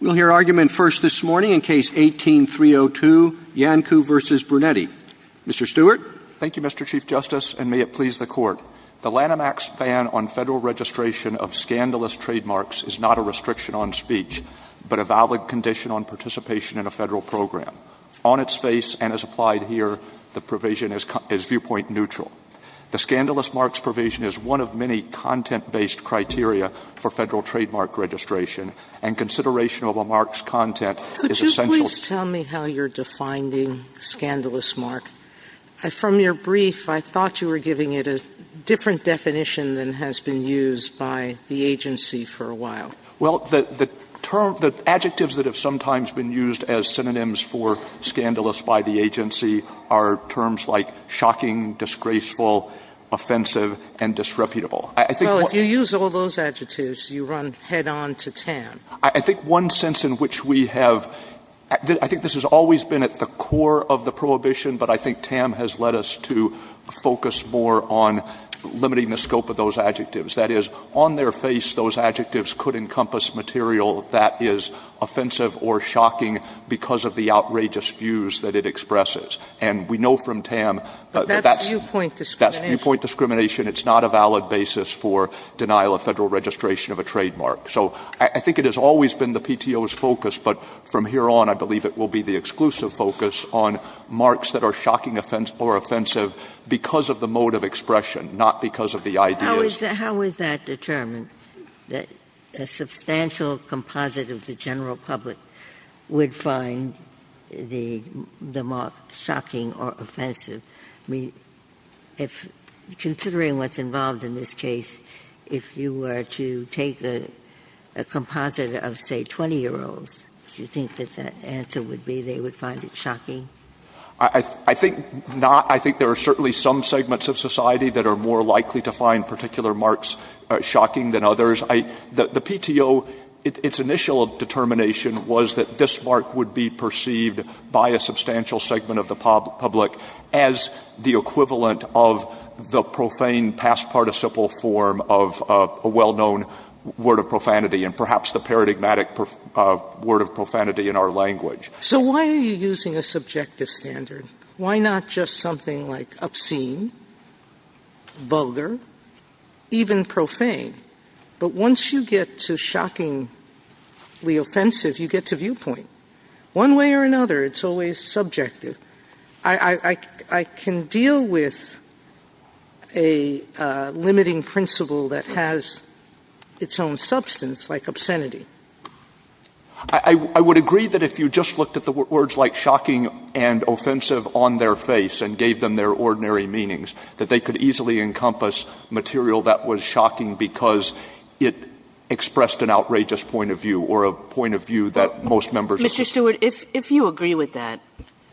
We'll hear argument first this morning in case 18-302, Iancu v. Brunetti. Mr. Stewart. Thank you, Mr. Chief Justice, and may it please the Court. The Lanham Act's ban on federal registration of scandalous trademarks is not a restriction on speech, but a valid condition on participation in a federal program. On its face and as applied here, the provision is viewpoint neutral. The scandalous marks provision is one of many content-based criteria for federal registration of a mark's content is essential. Could you please tell me how you're defining scandalous mark? From your brief, I thought you were giving it a different definition than has been used by the agency for a while. Well, the term – the adjectives that have sometimes been used as synonyms for scandalous by the agency are terms like shocking, disgraceful, offensive, and disreputable. I think one – Well, if you use all those adjectives, you run head-on to 10. I think one sense in which we have – I think this has always been at the core of the prohibition, but I think Tam has led us to focus more on limiting the scope of those adjectives. That is, on their face, those adjectives could encompass material that is offensive or shocking because of the outrageous views that it expresses. And we know from Tam that that's – But that's viewpoint discrimination. That's viewpoint discrimination. It's not a valid basis for denial of federal registration of a trademark. So I think it has always been the PTO's focus, but from here on, I believe it will be the exclusive focus on marks that are shocking or offensive because of the mode of expression, not because of the ideas. How is that determined, that a substantial composite of the general public would find the mark shocking or offensive? I mean, if – considering what's involved in this case, if you were to take a composite of, say, 20-year-olds, do you think that that answer would be they would find it shocking? I think not. I think there are certainly some segments of society that are more likely to find particular marks shocking than others. The PTO, its initial determination was that this mark would be perceived by a substantial segment of the public as the form of a well-known word of profanity and perhaps the paradigmatic word of profanity in our language. So why are you using a subjective standard? Why not just something like obscene, vulgar, even profane? But once you get to shockingly offensive, you get to viewpoint. One way or another, it's always subjective. I can deal with a limiting principle that has its own substance, like obscenity. I would agree that if you just looked at the words like shocking and offensive on their face and gave them their ordinary meanings, that they could easily encompass material that was shocking because it expressed an outrageous point of view or a point of view that most members of the Court would agree with. Mr. Stewart, if you agree with that,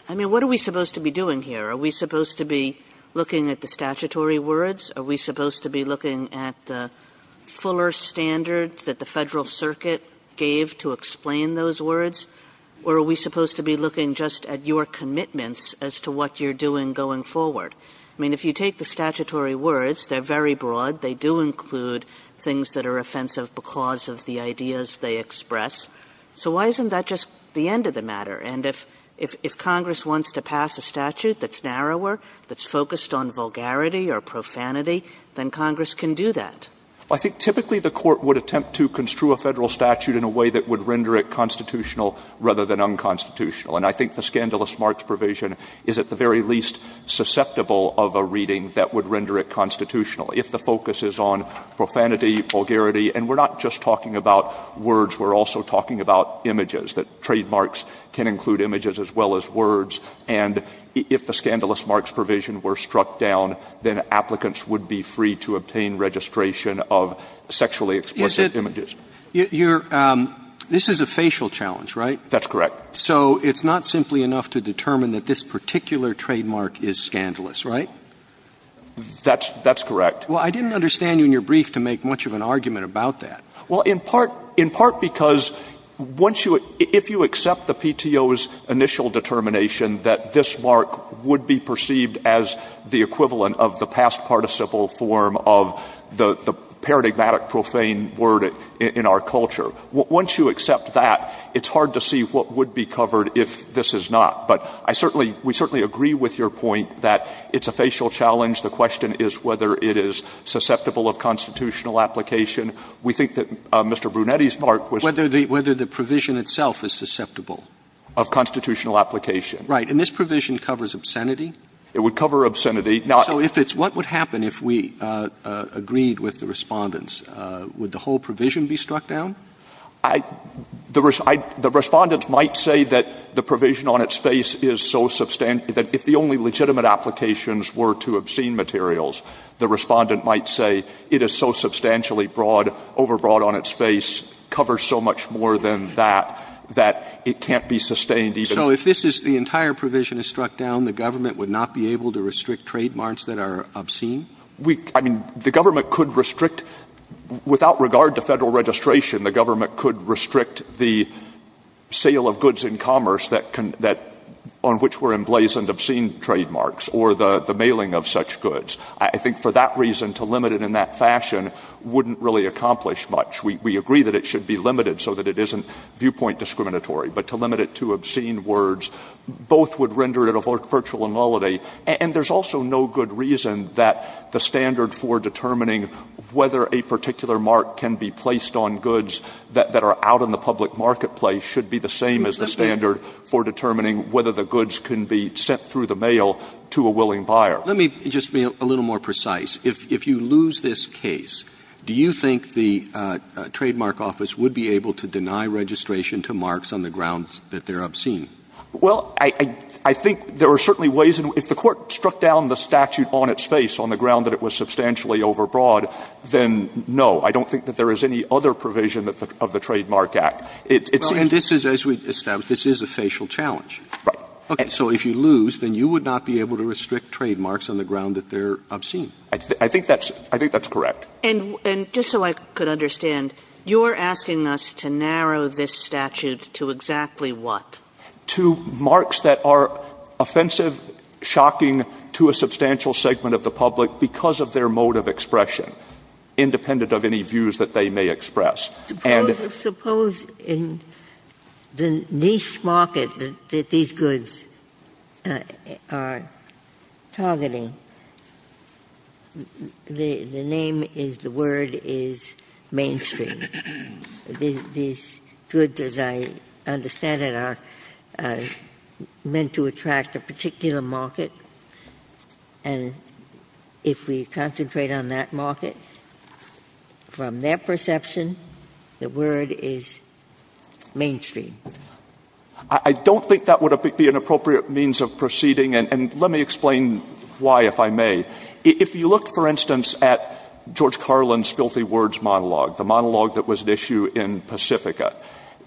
I mean, what are we supposed to be doing here? Are we supposed to be looking at the statutory words? Are we supposed to be looking at the fuller standards that the Federal Circuit gave to explain those words? Or are we supposed to be looking just at your commitments as to what you're doing going forward? I mean, if you take the statutory words, they're very broad. They do include things that are offensive because of the ideas they express. So why isn't that just the end of the matter? And if Congress wants to pass a statute that's narrower, that's focused on vulgarity or profanity, then Congress can do that. Stewart. I think typically the Court would attempt to construe a Federal statute in a way that would render it constitutional rather than unconstitutional. And I think the scandalous marks provision is at the very least susceptible of a reading that would render it constitutional if the focus is on profanity, vulgarity. And we're not just talking about words. We're also talking about images, that trademarks can include images as well as words. And if the scandalous marks provision were struck down, then applicants would be free to obtain registration of sexually explicit images. You're — this is a facial challenge, right? That's correct. So it's not simply enough to determine that this particular trademark is scandalous, right? That's — that's correct. Well, I didn't understand you in your brief to make much of an argument about that. Well, in part — in part because once you — if you accept the PTO's initial determination that this mark would be perceived as the equivalent of the past participle form of the paradigmatic profane word in our culture, once you accept that, it's hard to see what would be covered if this is not. But I certainly — we it's a facial challenge. The question is whether it is susceptible of constitutional application. We think that Mr. Brunetti's mark was — Whether the — whether the provision itself is susceptible? Of constitutional application. Right. And this provision covers obscenity? It would cover obscenity. Now — So if it's — what would happen if we agreed with the Respondents? Would the whole provision be struck down? I — the Respondents might say that the provision on its face is so — that if the legitimate applications were to obscene materials, the Respondent might say it is so substantially broad — overbroad on its face, covers so much more than that, that it can't be sustained even — So if this is — the entire provision is struck down, the government would not be able to restrict trademarks that are obscene? We — I mean, the government could restrict — without regard to Federal registration, the government could restrict the sale of goods in commerce that can — that — on which were emblazoned obscene trademarks or the mailing of such goods. I think for that reason, to limit it in that fashion wouldn't really accomplish much. We agree that it should be limited so that it isn't viewpoint discriminatory. But to limit it to obscene words, both would render it a virtual nullity. And there's also no good reason that the standard for determining whether a particular mark can be placed on goods that are out in the public marketplace should be the same as the standard for determining whether goods can be sent through the mail to a willing buyer. Let me just be a little more precise. If you lose this case, do you think the Trademark Office would be able to deny registration to marks on the grounds that they're obscene? Well, I think there are certainly ways — if the Court struck down the statute on its face on the ground that it was substantially overbroad, then no. I don't think that there is any other provision of the Trademark Act. It's — Well, and this is — as we've established, this is a facial challenge. Right. Okay. So if you lose, then you would not be able to restrict trademarks on the ground that they're obscene. I think that's — I think that's correct. And — and just so I could understand, you're asking us to narrow this statute to exactly what? To marks that are offensive, shocking to a substantial segment of the public because of their mode of expression, independent of any views that they may express. And — Suppose in the niche market that these goods are targeting, the name is — the word is mainstream. These goods, as I understand it, are meant to attract a particular market. And if we concentrate on that market, from their perception, the word is mainstream. I don't think that would be an appropriate means of proceeding. And let me explain why, if I may. If you look, for instance, at George Carlin's filthy words monologue, the monologue that was at issue in Pacifica,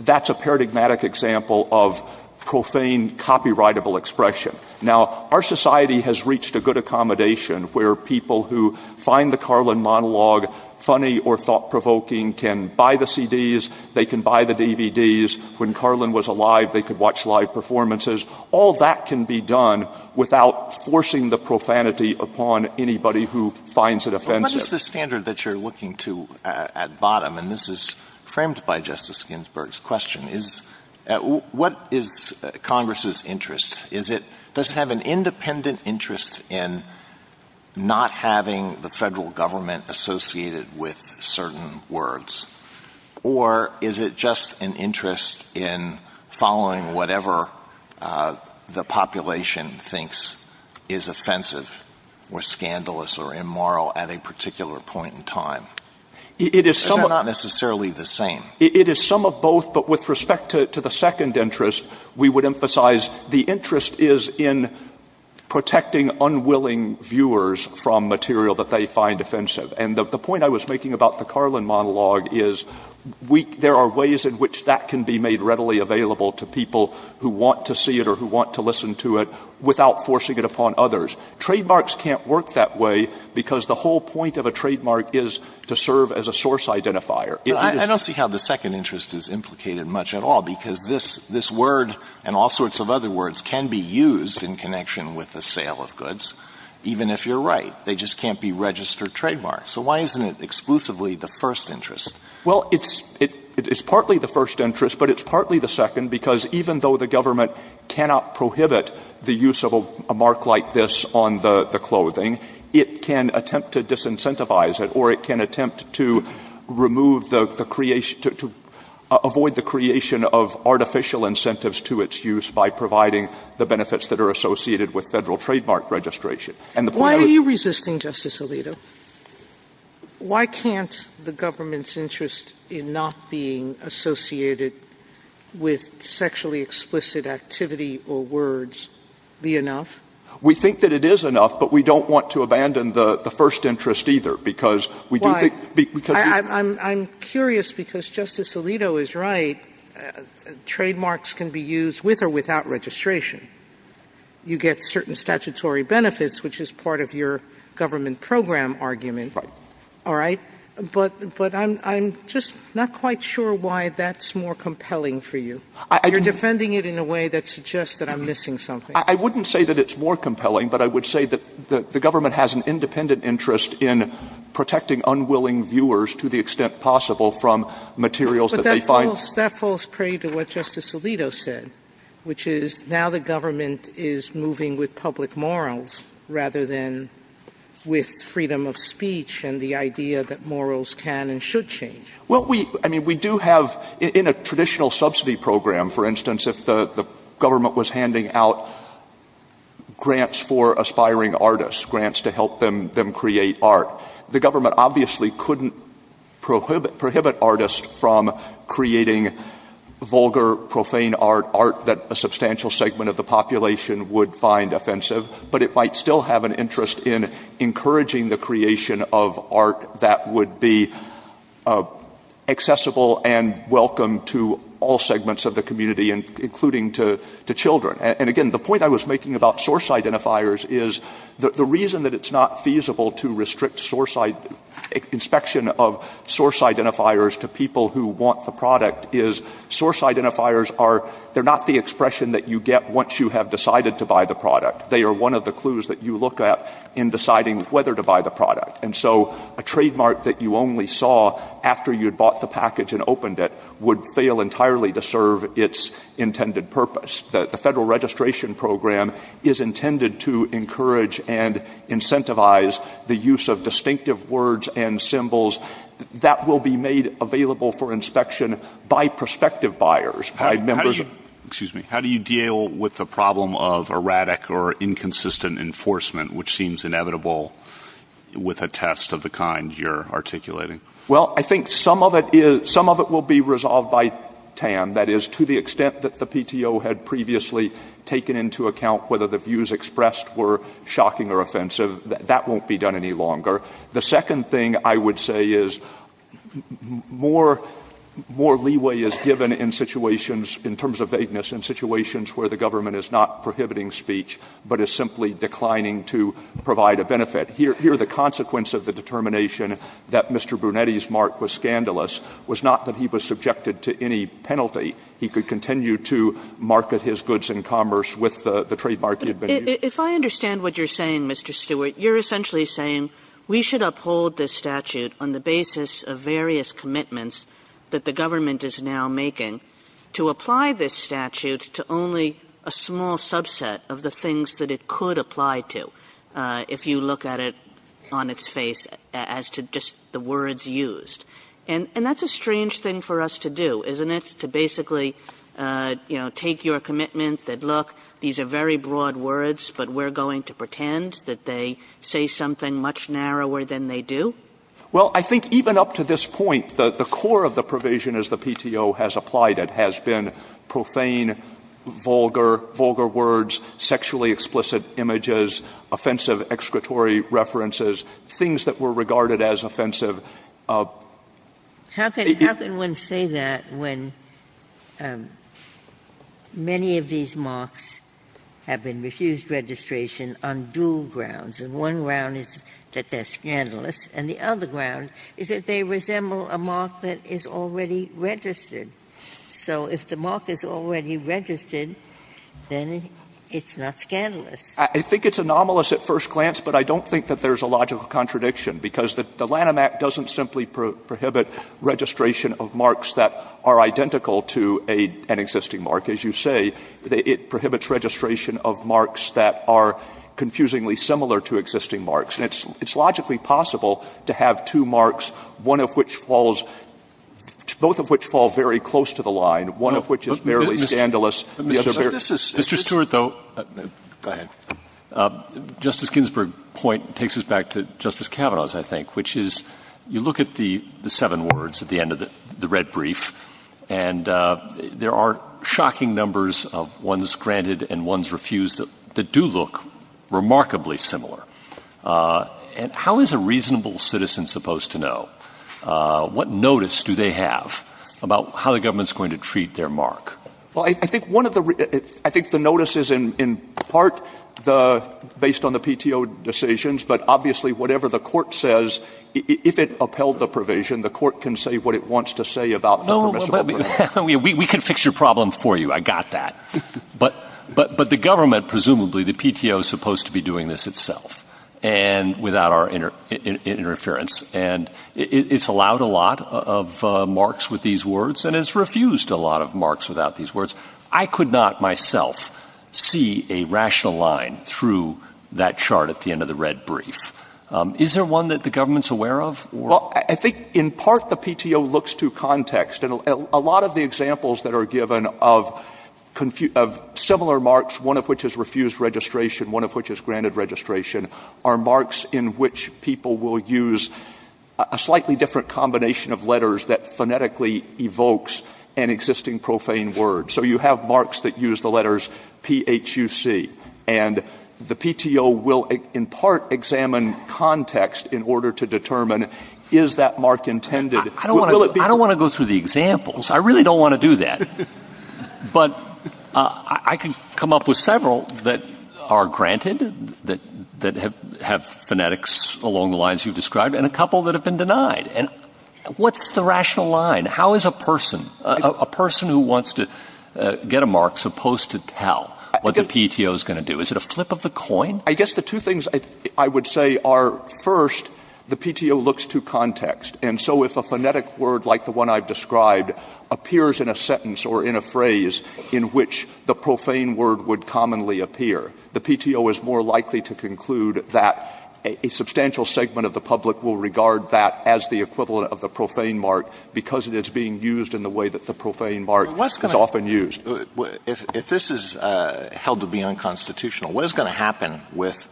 that's a paradigmatic example of profane, copyrightable expression. Now, our society has reached a good accommodation where people who find the Carlin monologue funny or thought-provoking can buy the CDs, they can buy the DVDs. When Carlin was alive, they could watch live performances. All that can be done without forcing the profanity upon anybody who finds it offensive. But what is the standard that you're looking to at bottom? And this is framed by Justice Ginsburg's question. Is — what is Congress's interest? Is it — does it have an independent interest in not having the federal government associated with certain words? Or is it just an interest in following whatever the population thinks is offensive or scandalous or immoral at a particular point in time? Is that not necessarily the same? It is some of both. But with respect to the second interest, we would emphasize the interest is in protecting unwilling viewers from material that they find offensive. And the point I was making about the Carlin monologue is we — there are ways in which that can be made readily available to people who want to see it or who want to listen to it without forcing it upon others. Trademarks can't work that way because the whole point of a trademark is to serve as a source identifier. I don't see how the second interest is implicated much at all because this — this word and all sorts of other words can be used in connection with the sale of goods, even if you're right. They just can't be registered trademarks. So why isn't it exclusively the first interest? Well, it's — it's partly the first interest, but it's partly the second because even though the government cannot prohibit the use of a mark like this on the clothing, it can attempt to disincentivize it or it can attempt to remove the creation — to avoid the creation of artificial incentives to its use by providing the benefits that are associated with Federal trademark registration. And the point — Why are you resisting, Justice Alito? Why can't the government's interest in not being associated with sexually explicit activity or words be enough? We think that it is enough, but we don't want to abandon the — the first interest either because we do think — Why? I'm — I'm curious because Justice Alito is right. Trademarks can be used with or without registration. You get certain statutory benefits, which is part of your government program argument. Right. All right? But — but I'm — I'm just not quite sure why that's more compelling for you. You're defending it in a way that suggests that I'm missing something. I wouldn't say that it's more compelling, but I would say that the government has an independent interest in protecting unwilling viewers to the extent possible from materials that they find — But that falls — that falls pretty to what Justice Alito said, which is now the government is moving with public morals rather than with freedom of speech and the idea that morals can and should change. Well, we — I mean, we do have — in a traditional subsidy program, for instance, if the — the government was handing out grants for aspiring artists, grants to help them — them create art, the government obviously couldn't prohibit — prohibit artists from creating vulgar, profane art, art that a substantial segment of the population would find offensive. But it might still have an interest in encouraging the creation of art that would be accessible and welcome to all segments of the community, including to — to children. And again, the point I was making about source identifiers is the reason that it's not feasible to restrict source — inspection of source identifiers to people who want the product is source identifiers are — they're not the expression that you get once you have decided to buy the product. They are one of the clues that you look at in deciding whether to buy the product. And so a trademark that you only saw after you had bought the package and opened it would fail entirely to serve its intended purpose. The federal registration program is intended to encourage and incentivize the use of distinctive words and symbols that will be made available for inspection by prospective buyers, by members — How do you — excuse me. How do you deal with the problem of erratic or inconsistent enforcement, which seems inevitable with a test of the kind you're articulating? Well, I think some of it is — some of it will be resolved by TAM. That is, to the extent that the PTO had previously taken into account whether the views expressed were shocking or offensive, that won't be done any longer. The second thing I would say is more — more leeway is given in situations — in terms of vagueness, in situations where the government is not prohibiting speech but is simply declining to provide a benefit. Here — here, the consequence of the determination that Mr. Brunetti's mark was scandalous was not that he was subjected to any penalty. He could continue to market his goods and commerce with the — the trademark he had been using. If I understand what you're saying, Mr. Stewart, you're essentially saying we should uphold this statute on the basis of various commitments that the government is now making to apply this statute to only a small subset of the things that it could apply to if you look at it on its face as to just the words used. And — and that's a strange thing for us to do, isn't it, to basically, you know, take your commitment that, look, these are very broad words, but we're going to pretend that they say something much narrower than they do? Well, I think even up to this point, the — the core of the provision as the PTO has applied it has been profane, vulgar — vulgar words, sexually explicit images, offensive excretory references, things that were regarded as offensive. How can — how can one say that when many of these marks have been refused registration on dual grounds? And one ground is that they're scandalous, and the other ground is that they resemble a mark that is already registered. So if the mark is already registered, then it's not scandalous. I think it's anomalous at first glance, but I don't think that there's a logical contradiction, because the Lanham Act doesn't simply prohibit registration of marks that are identical to a — an existing mark. As you say, it prohibits registration of marks that are confusingly similar to existing marks. And it's — it's one of which falls — both of which fall very close to the line, one of which is barely scandalous. Mr. Stewart, though — Go ahead. Justice Ginsburg's point takes us back to Justice Kavanaugh's, I think, which is you look at the seven words at the end of the red brief, and there are shocking numbers of ones granted and ones refused that do look remarkably similar. And how is a reasonable citizen supposed to know? What notice do they have about how the government's going to treat their mark? Well, I think one of the — I think the notice is, in part, the — based on the PTO decisions, but obviously, whatever the court says, if it upheld the provision, the court can say what it wants to say about the permissible — No, but we — we can fix your problem for you. I got that. But — but the government, presumably, the PTO, is supposed to be doing this itself, and without our interference. And it's allowed a lot of marks with these words, and it's refused a lot of marks without these words. I could not myself see a rational line through that chart at the end of the red brief. Is there one that the government's aware of? Well, I think, in part, the PTO looks to context. And a lot of the examples that are given of similar marks, one of which is refused registration, one of which is refused the provision which people will use a slightly different combination of letters that phonetically evokes an existing profane word. So you have marks that use the letters P-H-U-C. And the PTO will, in part, examine context in order to determine, is that mark intended? I don't want to go through the examples. I really don't want to do that. But I can come up with several that are granted, that have phonetics along the lines you've described, and a couple that have been denied. And what's the rational line? How is a person, a person who wants to get a mark supposed to tell what the PTO is going to do? Is it a flip of the coin? I guess the two things I would say are, first, the PTO looks to context. And so if a phonetic word like the one I've described appears in a sentence or in a phrase in which the profane word would commonly appear, the PTO is more likely to conclude that a substantial segment of the public will regard that as the equivalent of the profane mark because it is being used in the way that the profane mark is often used. If this is held to be unconstitutional, what is going to happen with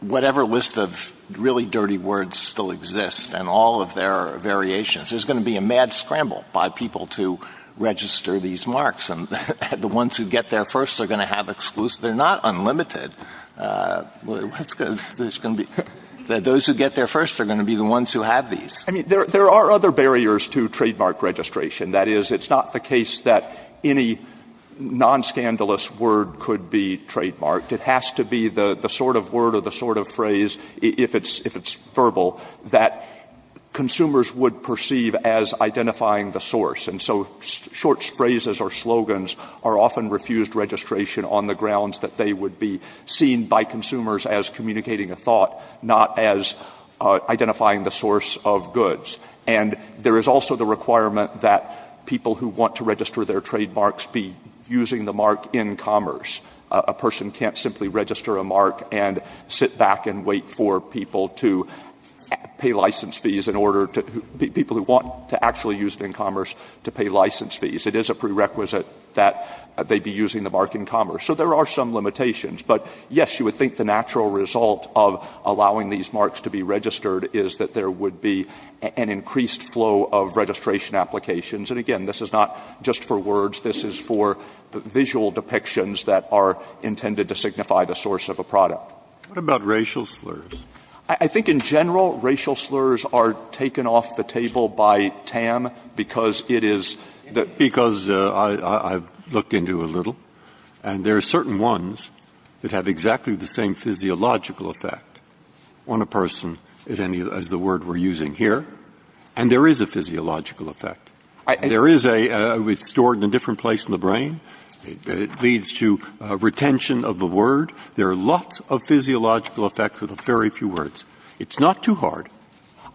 whatever list of really dirty words still exist and all of their variations? There's going to be a mad scramble by people to register these marks. And the ones who get there first are going to have exclusive. They're not unlimited. There's going to be, those who get there first are going to be the ones who have these. I mean, there are other barriers to trademark registration. That is, it's not the case that any nonscandalous word could be trademarked. It has to be the sort of word or the sort of phrase, if it's verbal, that consumers would perceive as identifying the source. And so short phrases or slogans are often refused registration on the grounds that they would be seen by consumers as communicating a thought, not as goods. And there is also the requirement that people who want to register their trademarks be using the mark in commerce. A person can't simply register a mark and sit back and wait for people to pay license fees in order to, people who want to actually use it in commerce to pay license fees. It is a prerequisite that they be using the mark in commerce. So there are some limitations. But, yes, you would think the natural result of flow of registration applications. And, again, this is not just for words. This is for visual depictions that are intended to signify the source of a product. Breyer. What about racial slurs? Stewart. I think in general, racial slurs are taken off the table by TAM because it is the — Breyer. Because I've looked into it a little. And there are certain ones that have exactly the same physiological effect on a person as the word we're using here. And there is a physiological effect. Stewart. I — Breyer. There is a — it's stored in a different place in the brain. It leads to retention of the word. There are lots of physiological effects with very few words. It's not too hard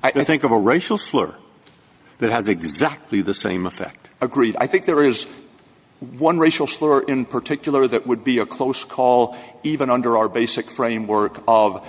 to think of a racial slur that has exactly the same effect. Stewart. Agreed. I think there is one racial slur in particular that would be a close call even under our basic framework of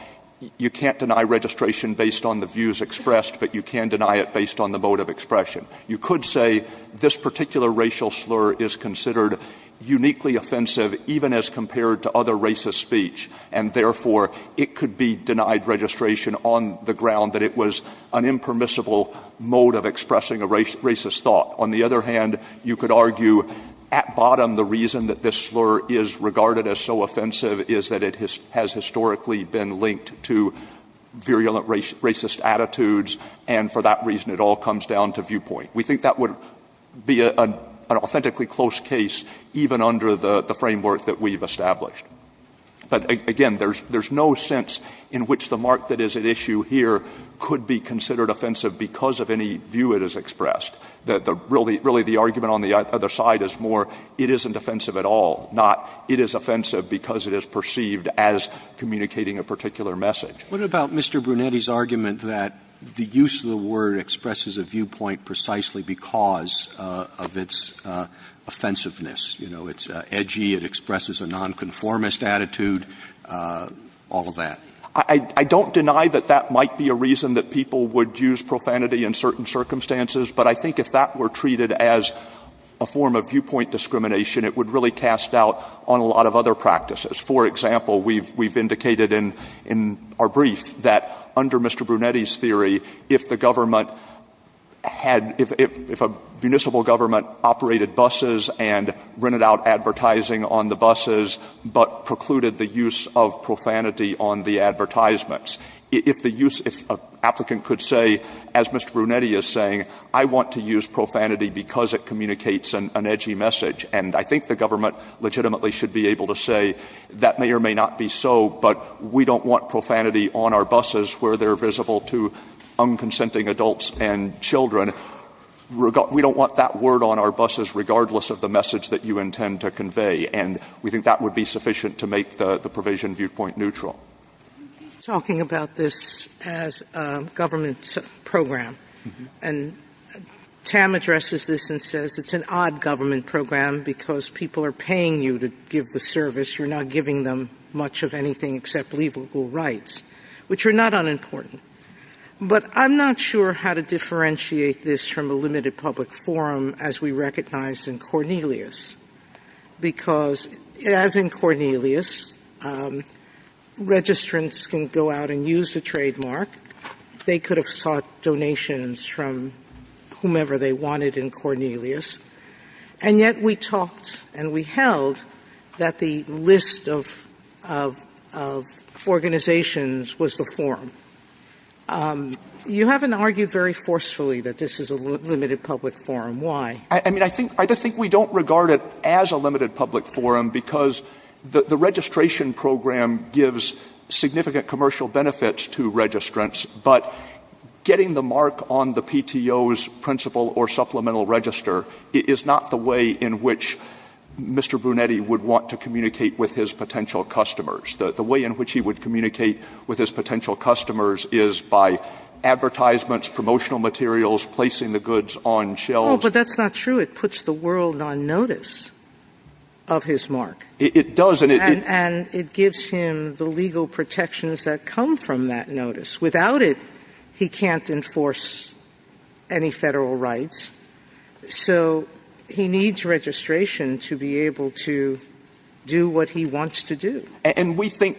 you can't deny registration based on the views expressed, but you can deny it based on the mode of expression. You could say this particular racial slur is considered uniquely offensive even as compared to other racist speech. And, therefore, it could be denied registration on the ground that it was an impermissible mode of expressing a racist thought. On the other hand, you could argue at bottom the reason that this slur is regarded as so offensive is that it has historically been linked to virulent racist attitudes. And, for that reason, it all comes down to viewpoint. We think that would be an authentically close case even under the framework that we've established. But, again, there's no sense in which the mark that is at issue here could be considered offensive because of any view it has expressed. Really, the argument on the other side is more it isn't offensive at all, not it is offensive because it is perceived as communicating a particular message. Roberts. What about Mr. Brunetti's argument that the use of the word expresses a viewpoint precisely because of its offensiveness? You know, it's edgy, it expresses a nonconformist attitude, all of that. I don't deny that that might be a reason that people would use profanity in certain circumstances, but I think if that were treated as a form of viewpoint discrimination, it would really cast doubt on a lot of other practices. For example, we've indicated in our brief that under Mr. Brunetti's theory, if the government had — if a municipal government operated buses and rented out advertising on the buses but precluded the use of profanity on the advertisements, if the use — if an applicant could say, as Mr. Brunetti is saying, I want to use profanity because it communicates an edgy message, and I think the government legitimately should be able to say that may or may not be so, but we don't want profanity on our buses where they're visible to unconsenting adults and children. We don't want that word on our buses regardless of the message that you intend to convey, and we think that would be sufficient to make the provision viewpoint neutral. You keep talking about this as a government program, and Tam addresses this and says it's an odd government program because people are paying you to give the service. You're not giving them much of anything except leaveable rights, which are not unimportant, but I'm not sure how to differentiate this from a limited public forum as we recognized in Cornelius because, as in Cornelius, registrants can go out and use the trademark. They could have sought donations from whomever they wanted in Cornelius, and yet we talked and we held that the list of organizations was the forum. You haven't argued very forcefully that this is a limited public forum. Why? I mean, I think we don't regard it as a limited public forum because the registration program gives significant commercial benefits to registrants, but getting the mark on the PTO's principal or supplemental register is not the way in which Mr. Brunetti would want to communicate with his potential customers. The way in which he would communicate with his potential customers is by putting the world on notice of his mark. It does. And it gives him the legal protections that come from that notice. Without it, he can't enforce any Federal rights. So he needs registration to be able to do what he wants to do. And we think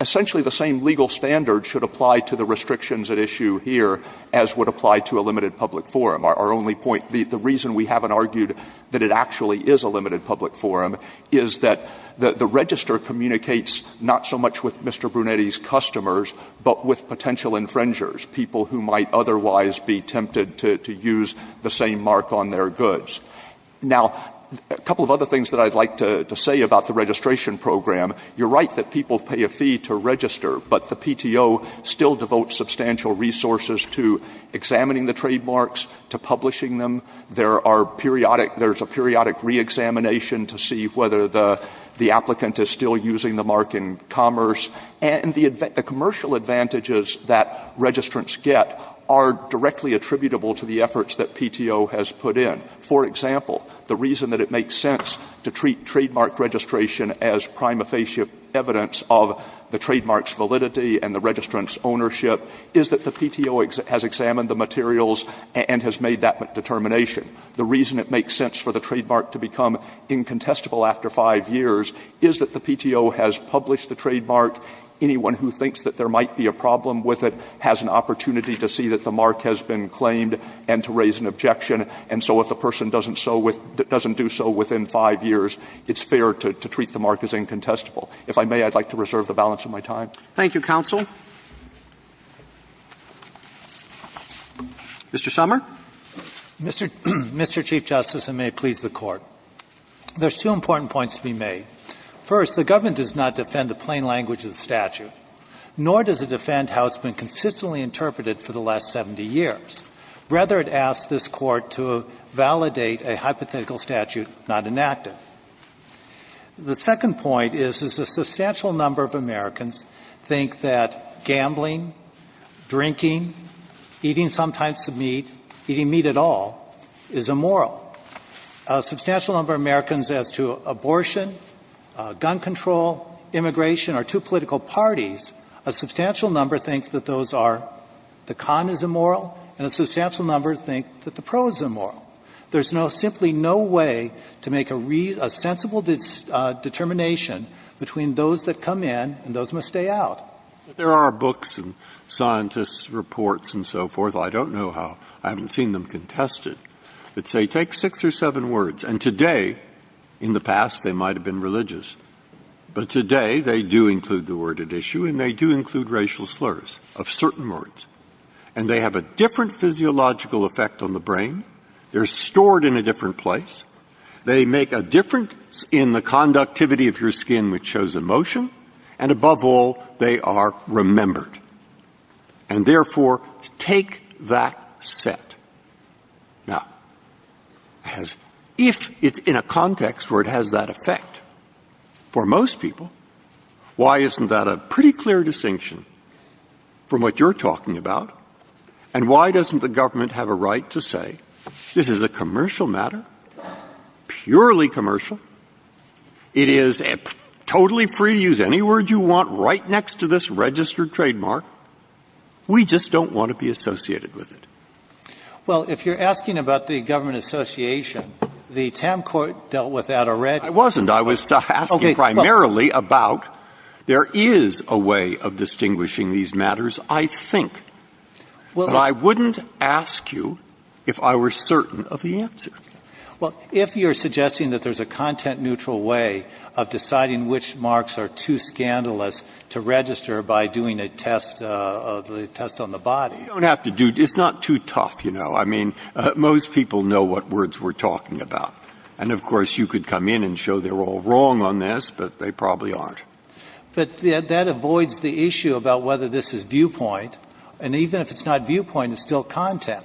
essentially the same legal standards should apply to the restrictions at issue here as would apply to a limited public forum. Our only point, the reason we haven't argued that it actually is a limited public forum is that the register communicates not so much with Mr. Brunetti's customers but with potential infringers, people who might otherwise be tempted to use the same mark on their goods. Now, a couple of other things that I'd like to say about the registration program. You're right that people pay a fee to register, but the PTO still devotes substantial resources to examining the trademarks, to publishing them. There are periodic, there's a periodic reexamination to see whether the applicant is still using the mark in commerce. And the commercial advantages that registrants get are directly attributable to the efforts that PTO has put in. For example, the reason that it makes sense to treat trademark registration as prima facie evidence of the trademark's validity and the registrant's ownership is that the PTO has examined the materials and has made that determination. The reason it makes sense for the trademark to become incontestable after five years is that the PTO has published the trademark. Anyone who thinks that there might be a problem with it has an opportunity to see that the mark has been claimed and to raise an objection. And so if a person doesn't do so within five years, it's fair to treat the mark as incontestable. If I may, I'd like to reserve the balance of my time. Roberts. Thank you, counsel. Mr. Sommer. Mr. Chief Justice, and may it please the Court, there's two important points to be made. First, the government does not defend the plain language of the statute, nor does it defend how it's been consistently interpreted for the last 70 years. Rather, it asks this Court to validate a hypothetical statute not enacted. The second point is, is a substantial number of Americans think that gambling, drinking, eating some types of meat, eating meat at all, is immoral. A substantial number of Americans as to abortion, gun control, immigration, or two political parties, a substantial number think that those are the con is immoral, and a substantial number think that the pro is immoral. There's simply no way to make a reasonable determination between those that come in and those that must stay out. There are books and scientists' reports and so forth, I don't know how, I haven't seen them contested, that say take six or seven words, and today, in the past they might have been religious, but today they do include the word at issue and they do have a psychological effect on the brain, they're stored in a different place, they make a difference in the conductivity of your skin, which shows emotion, and above all, they are remembered. And therefore, take that set. Now, as if it's in a context where it has that effect, for most people, why isn't that a pretty clear distinction from what you're talking about, and why doesn't the government have a right to say, this is a commercial matter, purely commercial, it is totally free to use any word you want right next to this registered trademark, we just don't want to be associated with it? Well, if you're asking about the government association, the Tam Court dealt with that already. I wasn't. I was asking primarily about there is a way of distinguishing these matters, I think. But I wouldn't ask you if I were certain of the answer. Well, if you're suggesting that there's a content-neutral way of deciding which marks are too scandalous to register by doing a test on the body. You don't have to do that. It's not too tough, you know. I mean, most people know what words we're talking about. And of course, you could come in and show they're all wrong on this, but they probably aren't. But that avoids the issue about whether this is viewpoint. And even if it's not viewpoint, it's still content.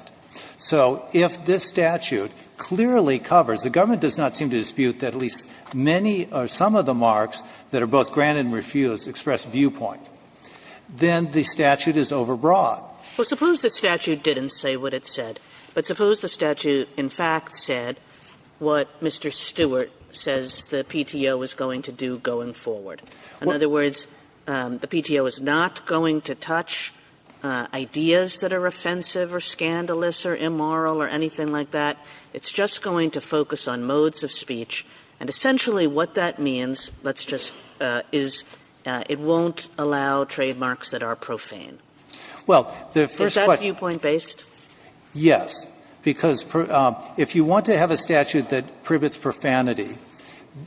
So if this statute clearly covers, the government does not seem to dispute that at least many or some of the marks that are both granted and refused express viewpoint, then the statute is overbroad. Well, suppose the statute didn't say what it said. But suppose the statute in fact said what Mr. Stewart says the PTO is going to do going forward. In other words, the PTO is not going to touch ideas that are offensive or scandalous or immoral or anything like that. It's just going to focus on modes of speech. And essentially what that means, let's just – is it won't allow trademarks that are profane. Well, the first question – Is that viewpoint-based? Yes. Because if you want to have a statute that prohibits profanity,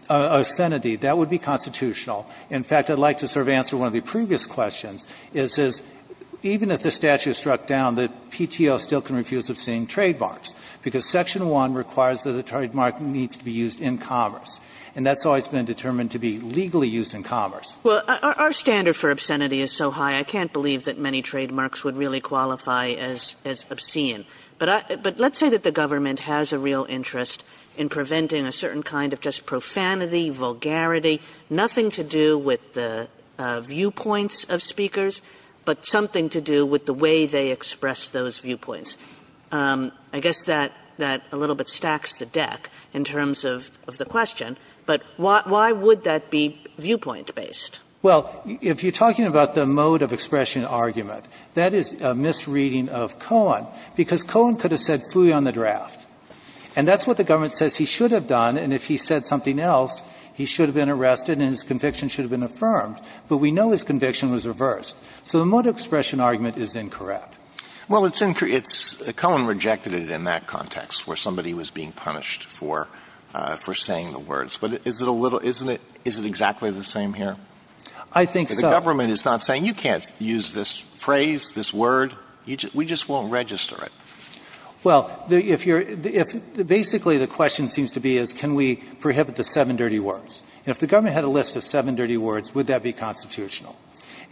obscenity, that would not be constitutional. In fact, I'd like to sort of answer one of the previous questions, is even if the statute is struck down, the PTO still can refuse obscene trademarks, because Section 1 requires that the trademark needs to be used in commerce, and that's always been determined to be legally used in commerce. Well, our standard for obscenity is so high, I can't believe that many trademarks would really qualify as – as obscene. But let's say that the government has a real interest in preventing a certain kind of just profanity, vulgarity, nothing to do with the viewpoints of speakers, but something to do with the way they express those viewpoints. I guess that – that a little bit stacks the deck in terms of – of the question. But why would that be viewpoint-based? Well, if you're talking about the mode of expression argument, that is a misreading of Cohen, because Cohen could have said phooey on the draft. And that's what the government says he should have done, and if he said something else, he should have been arrested and his conviction should have been affirmed. But we know his conviction was reversed. So the mode of expression argument is incorrect. Well, it's – Cohen rejected it in that context, where somebody was being punished for – for saying the words. But is it a little – isn't it – is it exactly the same here? I think so. The government is not saying you can't use this phrase, this word. We just won't register it. Well, if you're – if – basically, the question seems to be, is can we prohibit the seven dirty words? And if the government had a list of seven dirty words, would that be constitutional?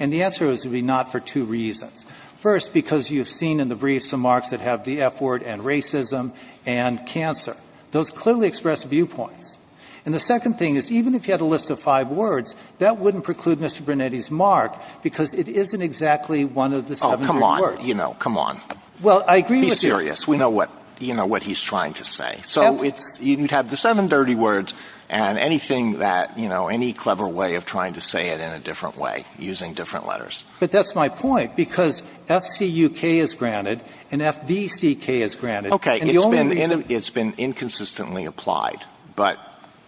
And the answer is it would be not for two reasons. First, because you've seen in the brief some marks that have the F word and racism and cancer. Those clearly express viewpoints. And the second thing is, even if you had a list of five words, that wouldn't preclude Mr. Brunetti's mark because it isn't exactly one of the seven dirty words. Oh, come on. You know, come on. Well, I agree with you. Be serious. We know what – you know what he's trying to say. So it's – you'd have the seven dirty words and anything that – you know, any clever way of trying to say it in a different way, using different letters. But that's my point, because F-C-U-K is granted and F-V-C-K is granted. And the only reason – It's been – it's been inconsistently applied. But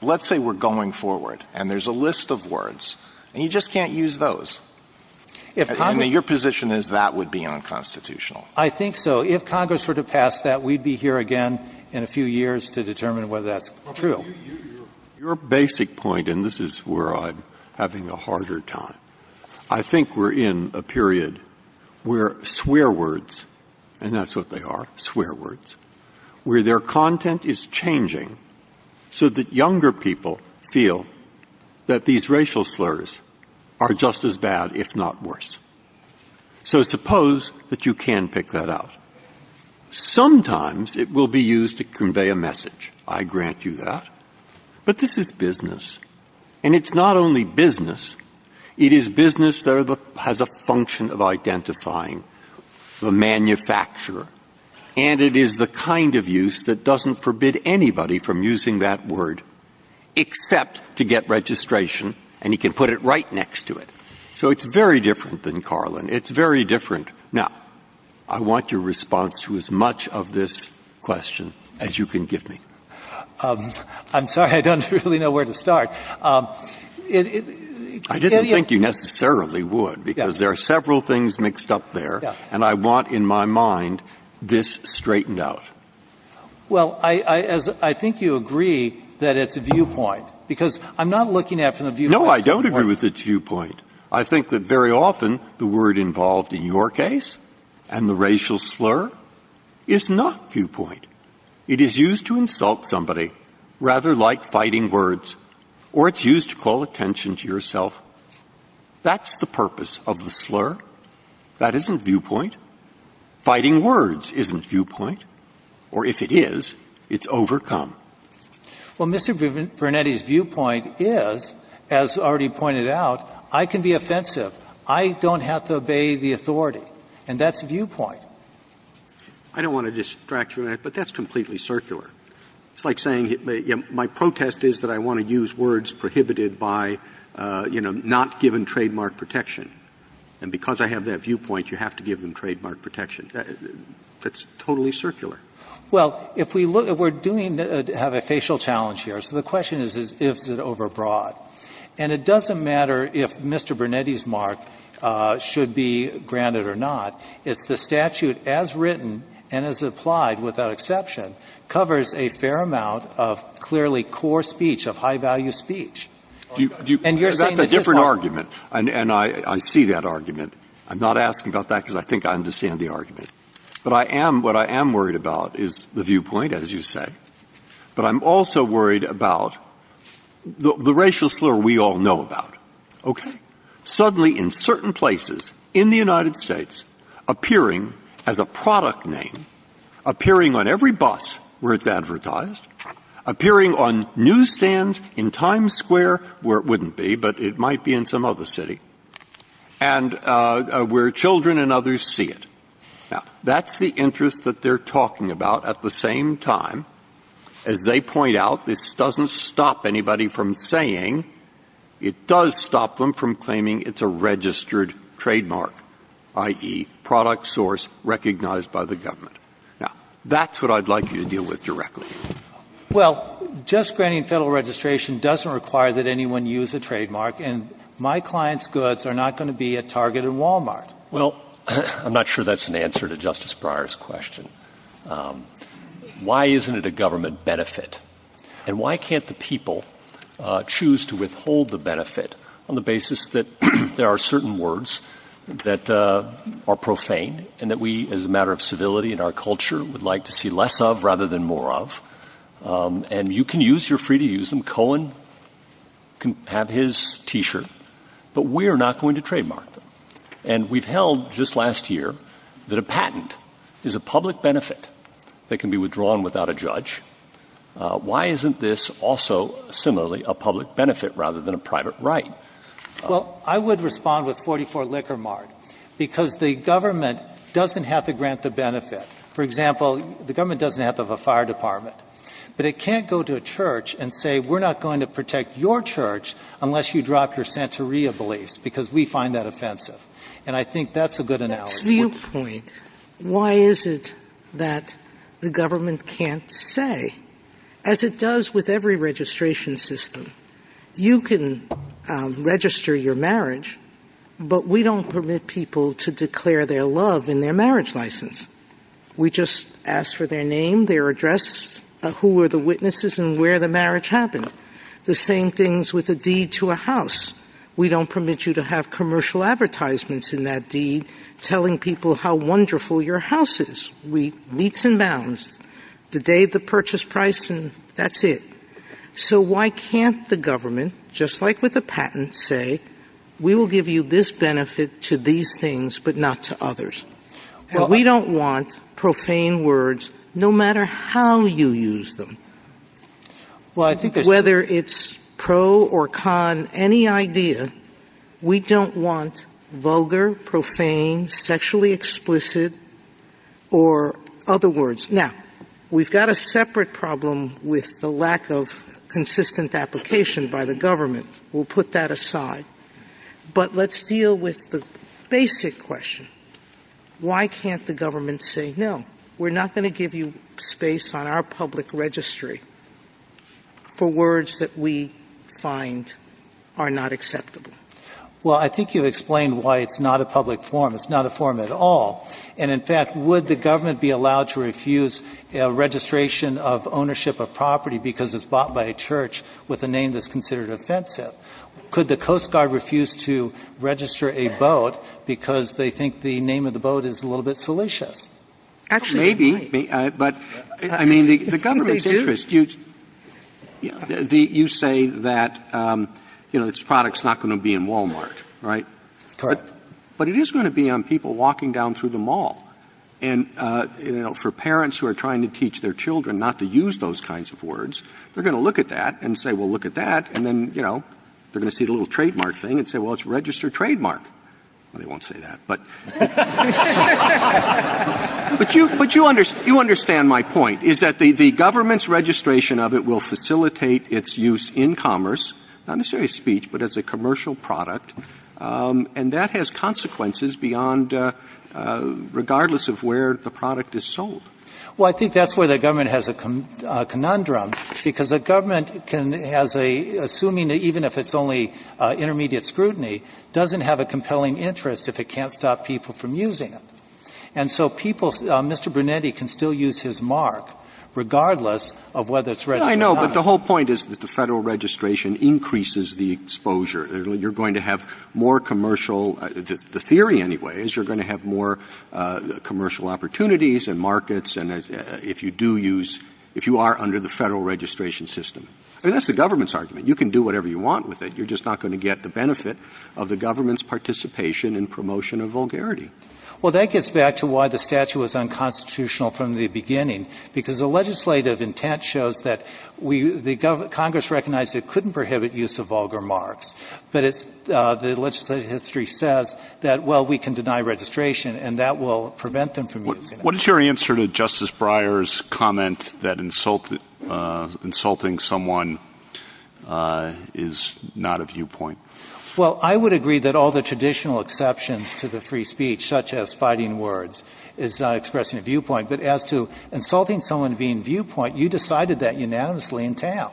let's say we're going forward and there's a list of words and you just can't use those. And your position is that would be unconstitutional. I think so. If Congress were to pass that, we'd be here again in a few years to determine whether that's true. Your basic point, and this is where I'm having a harder time, I think we're in a period where swear words – and that's what they are, swear words – where their content is changing so that younger people feel that these racial slurs are just as bad, if not worse. So suppose that you can pick that out. Sometimes it will be used to convey a message. I grant you that. But this is business. And it's not only business. It is business that has a function of identifying the manufacturer. And it is the kind of use that doesn't forbid anybody from using that word except to get registration, and he can put it right next to it. So it's very different than Carlin. It's very different. Now, I want your response to as much of this question as you can give me. I'm sorry. I don't really know where to start. I didn't think you necessarily would, because there are several things mixed up there, and I want in my mind this straightened out. Well, I think you agree that it's a viewpoint, because I'm not looking at it from the viewpoint. No, I don't agree with its viewpoint. I think that very often the word involved in your case and the racial slur is not viewpoint. It is used to insult somebody, rather like fighting words, or it's used to call attention to yourself. That's the purpose of the slur. That isn't viewpoint. Fighting words isn't viewpoint. Or if it is, it's overcome. Well, Mr. Brunetti's viewpoint is, as already pointed out, I can be offensive. I don't have to obey the authority. And that's viewpoint. I don't want to distract you, but that's completely circular. It's like saying my protest is that I want to use words prohibited by, you know, not given trademark protection. And because I have that viewpoint, you have to give them trademark protection. That's totally circular. Well, if we're doing to have a facial challenge here, so the question is, is it overbroad? And it doesn't matter if Mr. Brunetti's mark should be granted or not. It's the statute as written and as applied, without exception, covers a fair amount of clearly core speech, of high-value speech. And you're saying that it's not. That's a different argument, and I see that argument. I'm not asking about that because I think I understand the argument. But I am, what I am worried about is the viewpoint, as you say. But I'm also worried about the racial slur we all know about, okay? Suddenly, in certain places in the United States, appearing as a product name, appearing on every bus where it's advertised, appearing on newsstands in Times Square where it wouldn't be, but it might be in some other city, and where children and others see it. Now, that's the interest that they're talking about at the same time. As they point out, this doesn't stop anybody from saying, it does stop them from claiming it's a registered trademark, i.e., product source recognized by the government. Now, that's what I'd like you to deal with directly. Well, just granting Federal registration doesn't require that anyone use a trademark, and my client's goods are not going to be at Target and Walmart. Well, I'm not sure that's an answer to Justice Breyer's question. Why isn't it a government benefit? And why can't the people choose to withhold the benefit on the basis that there are certain words that are profane, and that we, as a matter of civility in our culture, would like to see less of rather than more of? And you can use, you're free to use them. Cohen can have his T-shirt. But we're not going to trademark them. And we've held just last year that a patent is a public benefit that can be withdrawn without a judge. Why isn't this also, similarly, a public benefit rather than a private right? Well, I would respond with 44 Lickermart, because the government doesn't have to grant the benefit. For example, the government doesn't have to have a fire department. But it can't go to a church and say, we're not going to protect your church unless you drop your Santeria beliefs, because we find that offensive. And I think that's a good analogy. Sotomayor That's viewpoint. Why is it that the government can't say? As it does with every registration system, you can register your marriage, but we don't permit people to declare their love in their marriage license. We just ask for their name, their address, who are the witnesses, and where the marriage happened. The same things with a deed to a house. We don't permit you to have commercial advertisements in that deed telling people how wonderful your house is. Weets and bounds. The date, the purchase price, and that's it. So why can't the government, just like with a patent, say, we will give you this benefit to these things, but not to others? But we don't want profane words, no matter how you use them. Whether it's pro or con any idea, we don't want vulgar, profane, sexually explicit, or other words. Now, we've got a separate problem with the lack of consistent application by the government. We'll put that aside. But let's deal with the basic question. Why can't the government say, no, we're not going to give you space on our public registry for words that we find are not acceptable? Well, I think you've explained why it's not a public forum. It's not a forum at all. And, in fact, would the government be allowed to refuse registration of ownership of property because it's bought by a church with a name that's considered offensive? Could the Coast Guard refuse to register a boat because they think the name of the boat is a little bit salacious? Actually, they might. Maybe. But, I mean, the government's interest, you say that, you know, this product's not going to be in Wal-Mart, right? Correct. And, you know, for parents who are trying to teach their children not to use those kinds of words, they're going to look at that and say, well, look at that. And then, you know, they're going to see the little trademark thing and say, well, it's a registered trademark. Well, they won't say that. But you understand my point, is that the government's registration of it will facilitate its use in commerce, not necessarily as speech, but as a commercial product. And that has consequences beyond, regardless of where the product is sold. Well, I think that's where the government has a conundrum, because the government has a, assuming even if it's only intermediate scrutiny, doesn't have a compelling interest if it can't stop people from using it. And so people, Mr. Brunetti can still use his mark regardless of whether it's registered or not. I know, but the whole point is that the Federal registration increases the exposure. You're going to have more commercial, the theory anyway, is you're going to have more commercial opportunities and markets and if you do use, if you are under the Federal registration system. I mean, that's the government's argument. You can do whatever you want with it. You're just not going to get the benefit of the government's participation in promotion of vulgarity. Well, that gets back to why the statute was unconstitutional from the beginning, because the legislative intent shows that the Congress recognized it couldn't prohibit use of vulgar marks. But it's, the legislative history says that, well, we can deny registration and that will prevent them from using it. What is your answer to Justice Breyer's comment that insulting someone is not a viewpoint? Well, I would agree that all the traditional exceptions to the free speech, such as fighting words, is not expressing a viewpoint. But as to insulting someone being viewpoint, you decided that unanimously in town.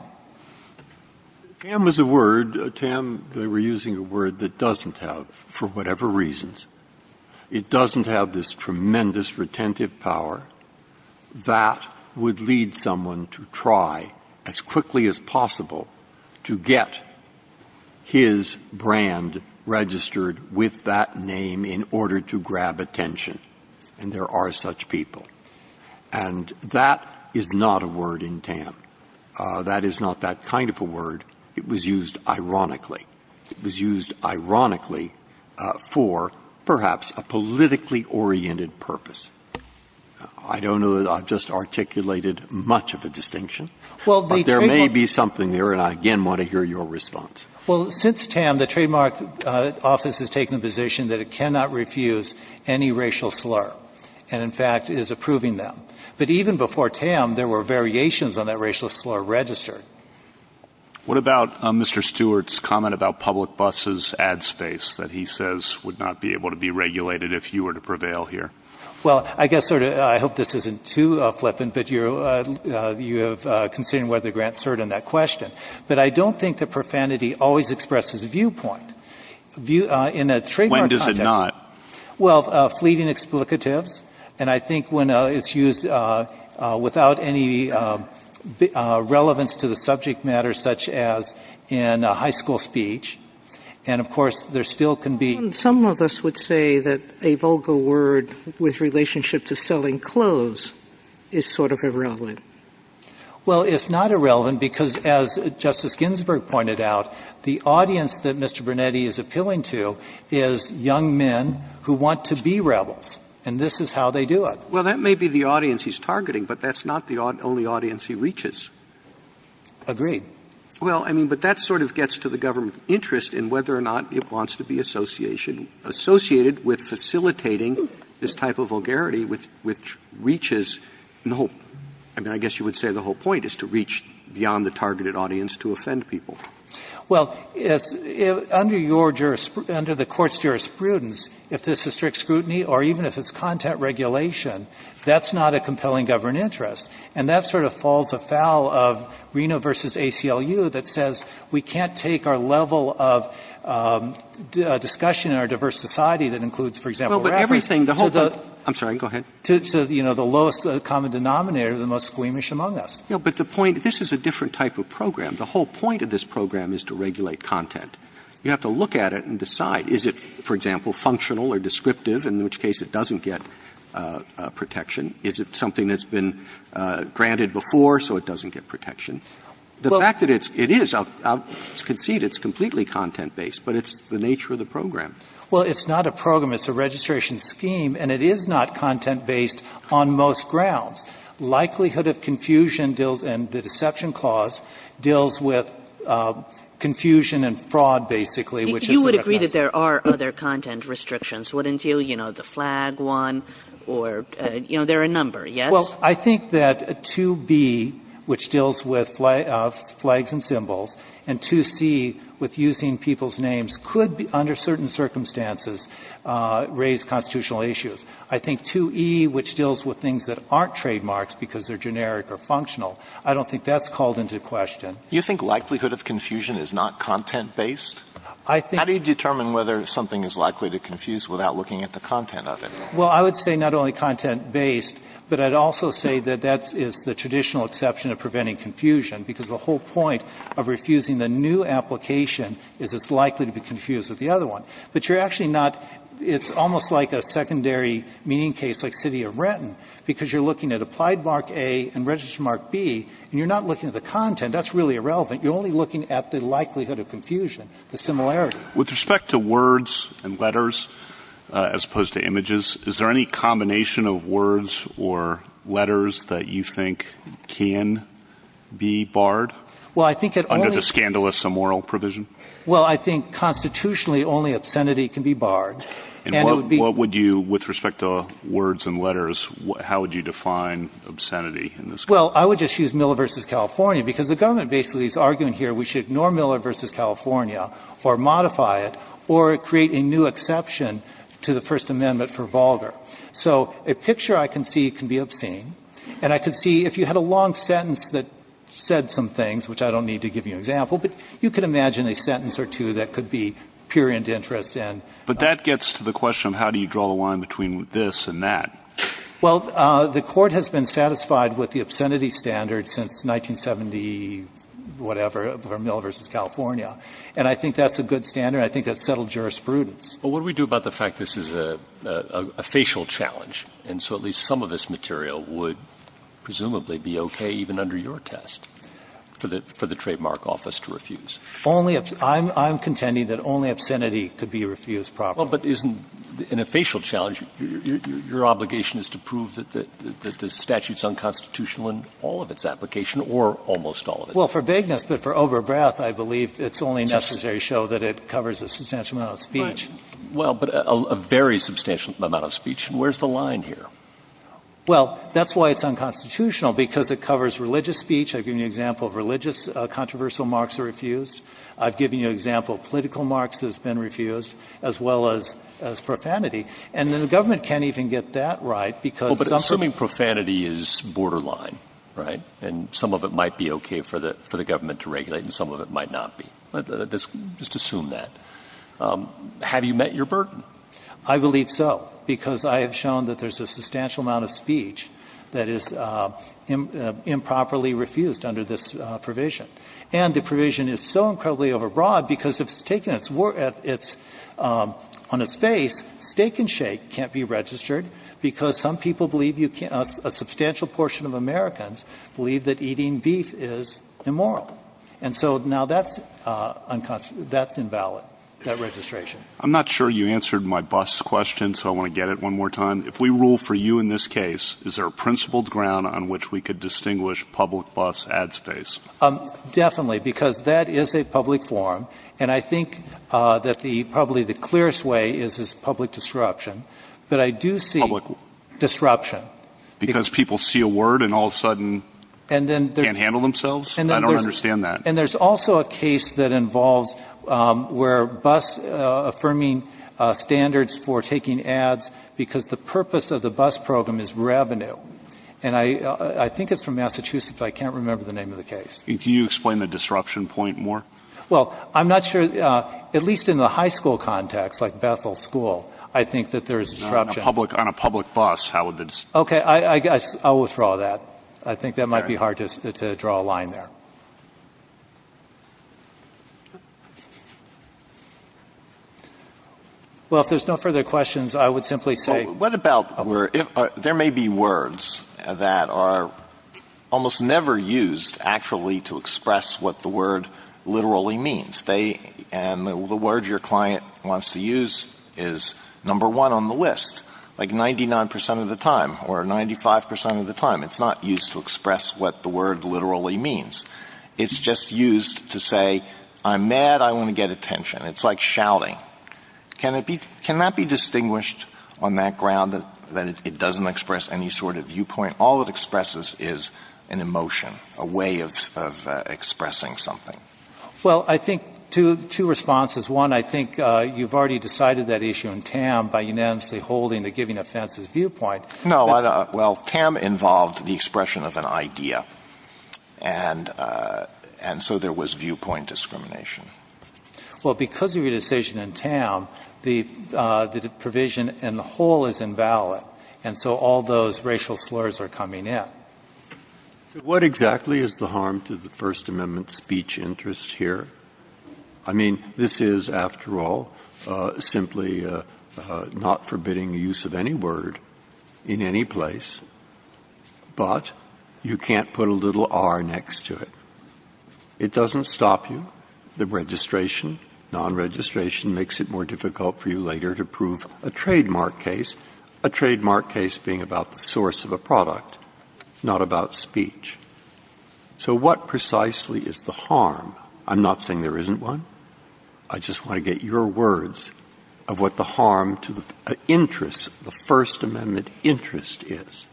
Tam is a word, Tam, they were using a word that doesn't have, for whatever reasons, it doesn't have this tremendous retentive power that would lead someone to try as quickly as possible to get his brand registered with that name in order to grab attention. And there are such people. And that is not a word in Tam. That is not that kind of a word. It was used ironically. It was used ironically for perhaps a politically oriented purpose. I don't know that I've just articulated much of a distinction. But there may be something there, and I again want to hear your response. Well, since Tam, the trademark office has taken the position that it cannot refuse any racial slur. And, in fact, is approving them. But even before Tam, there were variations on that racial slur registered. What about Mr. Stewart's comment about public buses' ad space that he says would not be able to be regulated if you were to prevail here? Well, I guess sort of, I hope this isn't too flippant, but you have considered whether to grant cert on that question. But I don't think that profanity always expresses viewpoint. In a trademark context. When does it not? Well, fleeting explicatives. And I think when it's used without any relevance to the subject matter, such as in high school speech. And, of course, there still can be. Some of us would say that a vulgar word with relationship to selling clothes is sort of irrelevant. Well, it's not irrelevant because, as Justice Ginsburg pointed out, the audience that Mr. Brunetti is appealing to is young men who want to be rebels. And this is how they do it. Well, that may be the audience he's targeting, but that's not the only audience he reaches. Agreed. Well, I mean, but that sort of gets to the government's interest in whether or not it wants to be associated with facilitating this type of vulgarity which reaches the whole – I mean, I guess you would say the whole point is to reach beyond the targeted audience to offend people. Well, under your – under the Court's jurisprudence, if this is strict scrutiny or even if it's content regulation, that's not a compelling government interest. And that sort of falls afoul of Reno v. ACLU that says we can't take our level of discussion in our diverse society that includes, for example, rappers to the – Well, but everything – I'm sorry. Go ahead. To, you know, the lowest common denominator, the most squeamish among us. No, but the point – this is a different type of program. The whole point of this program is to regulate content. You have to look at it and decide. Is it, for example, functional or descriptive, in which case it doesn't get protection? Is it something that's been granted before so it doesn't get protection? The fact that it's – it is. I'll concede it's completely content-based, but it's the nature of the program. Well, it's not a program. It's a registration scheme, and it is not content-based on most grounds. Likelihood of confusion deals – and the deception clause deals with confusion and fraud, basically, which is – You would agree that there are other content restrictions, wouldn't you? You know, the flag one or – you know, there are a number, yes? Well, I think that 2b, which deals with flags and symbols, and 2c, with using people's names, could under certain circumstances raise constitutional issues. I think 2e, which deals with things that aren't trademarks because they're generic or functional, I don't think that's called into question. You think likelihood of confusion is not content-based? I think – How do you determine whether something is likely to confuse without looking at the content of it? Well, I would say not only content-based, but I'd also say that that is the traditional exception of preventing confusion, because the whole point of refusing the new application is it's likely to be confused with the other one. But you're actually not – it's almost like a secondary meaning case like City of Renton, because you're looking at Applied Mark A and Registered Mark B, and you're not looking at the content. That's really irrelevant. You're only looking at the likelihood of confusion, the similarity. With respect to words and letters as opposed to images, is there any combination of words or letters that you think can be barred under the scandalous immoral provision? Well, I think constitutionally only obscenity can be barred, and it would be – And what would you – with respect to words and letters, how would you define obscenity in this case? Well, I would just use Miller v. California, because the government basically is arguing here we should ignore Miller v. California or modify it or create a new exception to the First Amendment for Volger. So a picture I can see can be obscene, and I can see if you had a long sentence that said some things, which I don't need to give you an example, but you could imagine a sentence or two that could be purient interest and – But that gets to the question of how do you draw the line between this and that. Well, the Court has been satisfied with the obscenity standard since 1970-whatever for Miller v. California. And I think that's a good standard. I think that's settled jurisprudence. But what do we do about the fact this is a facial challenge, and so at least some of this material would presumably be okay even under your test for the Trademark Office to refuse? Only – I'm contending that only obscenity could be refused properly. Well, but isn't in a facial challenge, your obligation is to prove that the statute is unconstitutional in all of its application or almost all of it? Well, for vagueness, but for overbreath, I believe it's only necessary to show that it covers a substantial amount of speech. Well, but a very substantial amount of speech. Where's the line here? Well, that's why it's unconstitutional, because it covers religious speech. I've given you an example of religious controversial marks that are refused. I've given you an example of political marks that have been refused, as well as profanity. And the government can't even get that right, because some – Well, but assuming profanity is borderline, right, and some of it might be okay for the government to regulate and some of it might not be. Let's just assume that. Have you met your burden? I believe so, because I have shown that there's a substantial amount of speech that is improperly refused under this provision. And the provision is so incredibly overbroad, because if it's taken at its – on its face, steak and shake can't be registered, because some people believe you can't – a substantial portion of Americans believe that eating beef is immoral. And so now that's unconstitutional. That's invalid, that registration. I'm not sure you answered my bus question, so I want to get it one more time. If we rule for you in this case, is there a principled ground on which we could distinguish public bus ad space? Definitely, because that is a public forum. And I think that the – probably the clearest way is public disruption. But I do see – Public what? Disruption. Because people see a word and all of a sudden can't handle themselves? I don't understand that. And there's also a case that involves where bus – affirming standards for taking ads, because the purpose of the bus program is revenue. And I think it's from Massachusetts, but I can't remember the name of the case. Can you explain the disruption point more? Well, I'm not sure – at least in the high school context, like Bethel School, I think that there is disruption. On a public bus, how would the – Okay, I'll withdraw that. I think that might be hard to draw a line there. Well, if there's no further questions, I would simply say – What about where – there may be words that are almost never used actually to express what the word literally means. They – and the word your client wants to use is number one on the list. Like 99 percent of the time or 95 percent of the time, it's not used to express what the word literally means. It's just used to say, I'm mad, I want to get attention. It's like shouting. Can it be – can that be distinguished on that ground that it doesn't express any sort of viewpoint? All it expresses is an emotion, a way of expressing something. Well, I think two responses. One, I think you've already decided that issue in TAM by unanimously holding the giving offenses viewpoint. No, I – well, TAM involved the expression of an idea. And so there was viewpoint discrimination. Well, because of your decision in TAM, the provision in the whole is invalid. And so all those racial slurs are coming in. So what exactly is the harm to the First Amendment speech interest here? I mean, this is, after all, simply not forbidding the use of any word in any place, but you can't put a little R next to it. It doesn't stop you. The registration, non-registration makes it more difficult for you later to prove a trademark case, a trademark case being about the source of a product, not about speech. So what precisely is the harm? I'm not saying there isn't one. I just want to get your words of what the harm to the interest, the First Amendment interest is.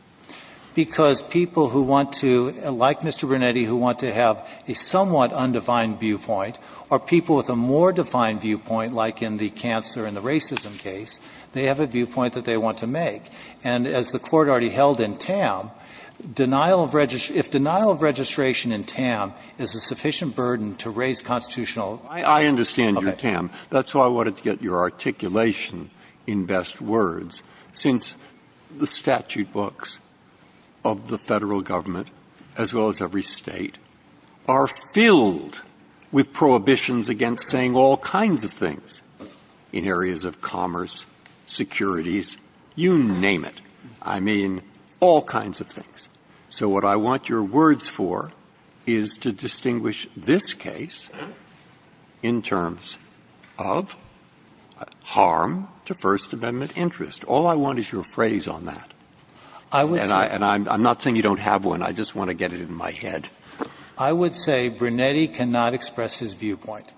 Because people who want to, like Mr. Brunetti, who want to have a somewhat undefined viewpoint, or people with a more defined viewpoint, like in the cancer and the racism case, they have a viewpoint that they want to make. And as the Court already held in TAM, denial of – if denial of registration in TAM is a sufficient burden to raise constitutional law. I understand your TAM. That's why I wanted to get your articulation in best words, since the statute books of the Federal Government, as well as every State, are filled with prohibitions against saying all kinds of things in areas of commerce, securities, you name it. I mean all kinds of things. So what I want your words for is to distinguish this case in terms of harm to First Amendment interest. All I want is your phrase on that. And I'm not saying you don't have one. I just want to get it in my head. I would say Brunetti cannot express his viewpoint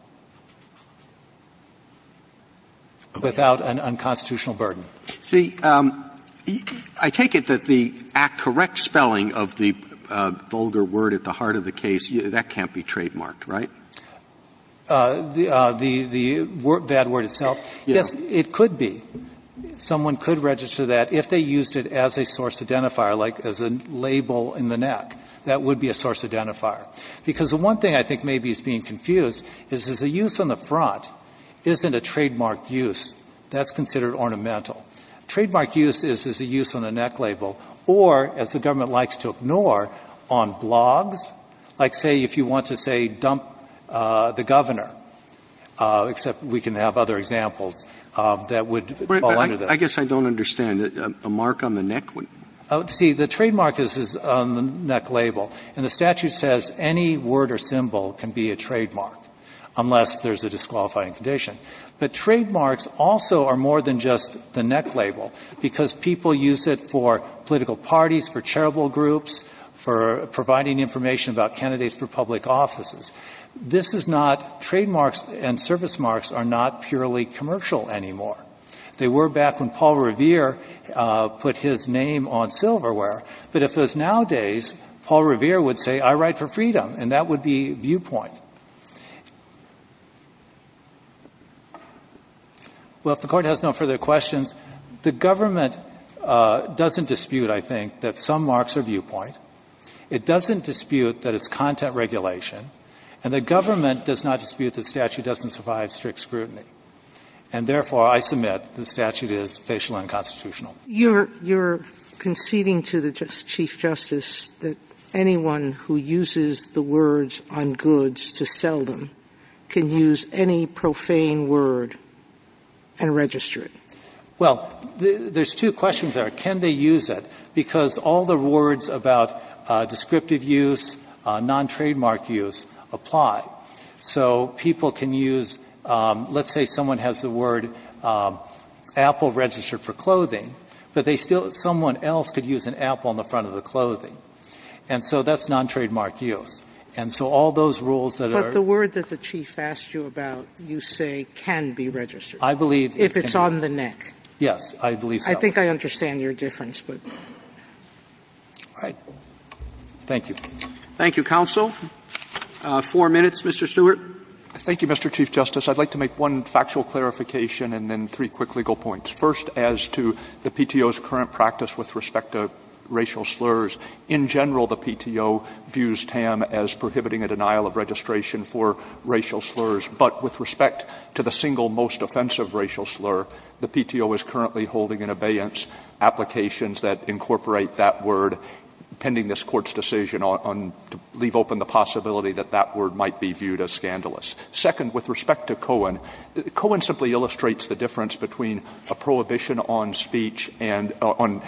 without an unconstitutional burden. See, I take it that the correct spelling of the vulgar word at the heart of the case, that can't be trademarked, right? The bad word itself? Yes, it could be. Someone could register that if they used it as a source identifier, like as a label in the neck. That would be a source identifier. Because the one thing I think maybe is being confused is the use on the front isn't a trademark use. That's considered ornamental. Trademark use is a use on the neck label or, as the government likes to ignore, on blogs, like say if you want to say dump the governor, except we can have other examples that would fall under that. But I guess I don't understand. A mark on the neck? See, the trademark is on the neck label. And the statute says any word or symbol can be a trademark, unless there's a disqualifying condition. But trademarks also are more than just the neck label. Because people use it for political parties, for charitable groups, for providing information about candidates for public offices. This is not, trademarks and service marks are not purely commercial anymore. They were back when Paul Revere put his name on silverware. But if it was nowadays, Paul Revere would say, I write for freedom. And that would be viewpoint. Well, if the Court has no further questions, the government doesn't dispute, I think, that some marks are viewpoint. It doesn't dispute that it's content regulation. And the government does not dispute the statute doesn't provide strict scrutiny. And therefore, I submit the statute is facial and constitutional. Sotomayor, you're conceding to the Chief Justice that anyone who uses the words on goods to sell them can use any profane word and register it. Well, there's two questions there. Can they use it? Because all the words about descriptive use, non-trademark use, apply. So people can use, let's say someone has the word apple registered for clothing, but they still, someone else could use an apple on the front of the clothing. And so that's non-trademark use. And so all those rules that are. But the word that the Chief asked you about, you say can be registered. I believe it can. If it's on the neck. Yes, I believe so. I think I understand your difference, but. All right. Thank you. Thank you, counsel. Four minutes, Mr. Stewart. Thank you, Mr. Chief Justice. I'd like to make one factual clarification and then three quick legal points. First, as to the PTO's current practice with respect to racial slurs, in general the PTO views TAM as prohibiting a denial of registration for racial slurs. But with respect to the single most offensive racial slur, the PTO is currently holding in abeyance applications that incorporate that word pending this Court's decision on to leave open the possibility that that word might be viewed as scandalous. Second, with respect to Cohen, Cohen simply illustrates the difference between a prohibition on speech and on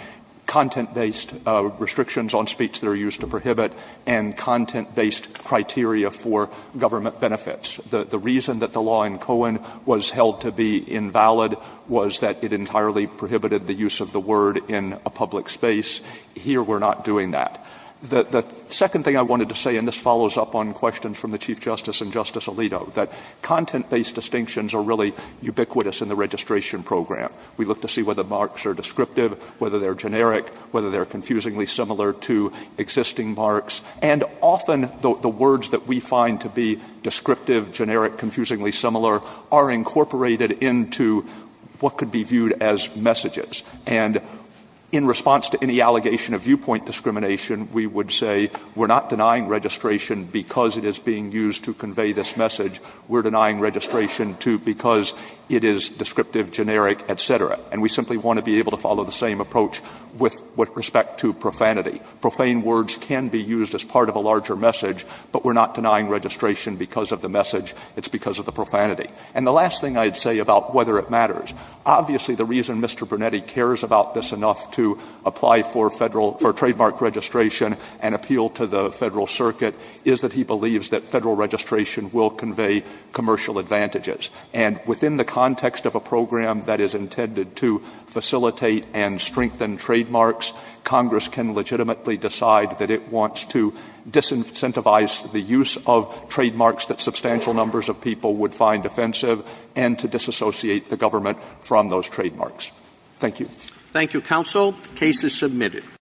content-based restrictions on speech that are used to prohibit and content-based criteria for government benefits. The reason that the law in Cohen was held to be invalid was that it entirely prohibited the use of the word in a public space. Here we're not doing that. The second thing I wanted to say, and this follows up on questions from the Chief Justice and Justice Alito, that content-based distinctions are really ubiquitous in the registration program. We look to see whether marks are descriptive, whether they're generic, whether they're confusingly similar to existing marks. And often the words that we find to be descriptive, generic, confusingly similar are incorporated into what could be viewed as messages. And in response to any allegation of viewpoint discrimination, we would say we're not denying registration because it is being used to convey this message. We're denying registration because it is descriptive, generic, et cetera. And we simply want to be able to follow the same approach with respect to profanity. Profane words can be used as part of a larger message, but we're not denying registration because of the message. It's because of the profanity. And the last thing I'd say about whether it matters. Obviously, the reason Mr. Brunetti cares about this enough to apply for Federal or trademark registration and appeal to the Federal Circuit is that he believes that Federal registration will convey commercial advantages. And within the context of a program that is intended to facilitate and strengthen trademarks, Congress can legitimately decide that it wants to disincentivize the use of trademarks that substantial numbers of people would find offensive and to disassociate the government from those trademarks. Thank you. Roberts. Thank you, counsel. The case is submitted.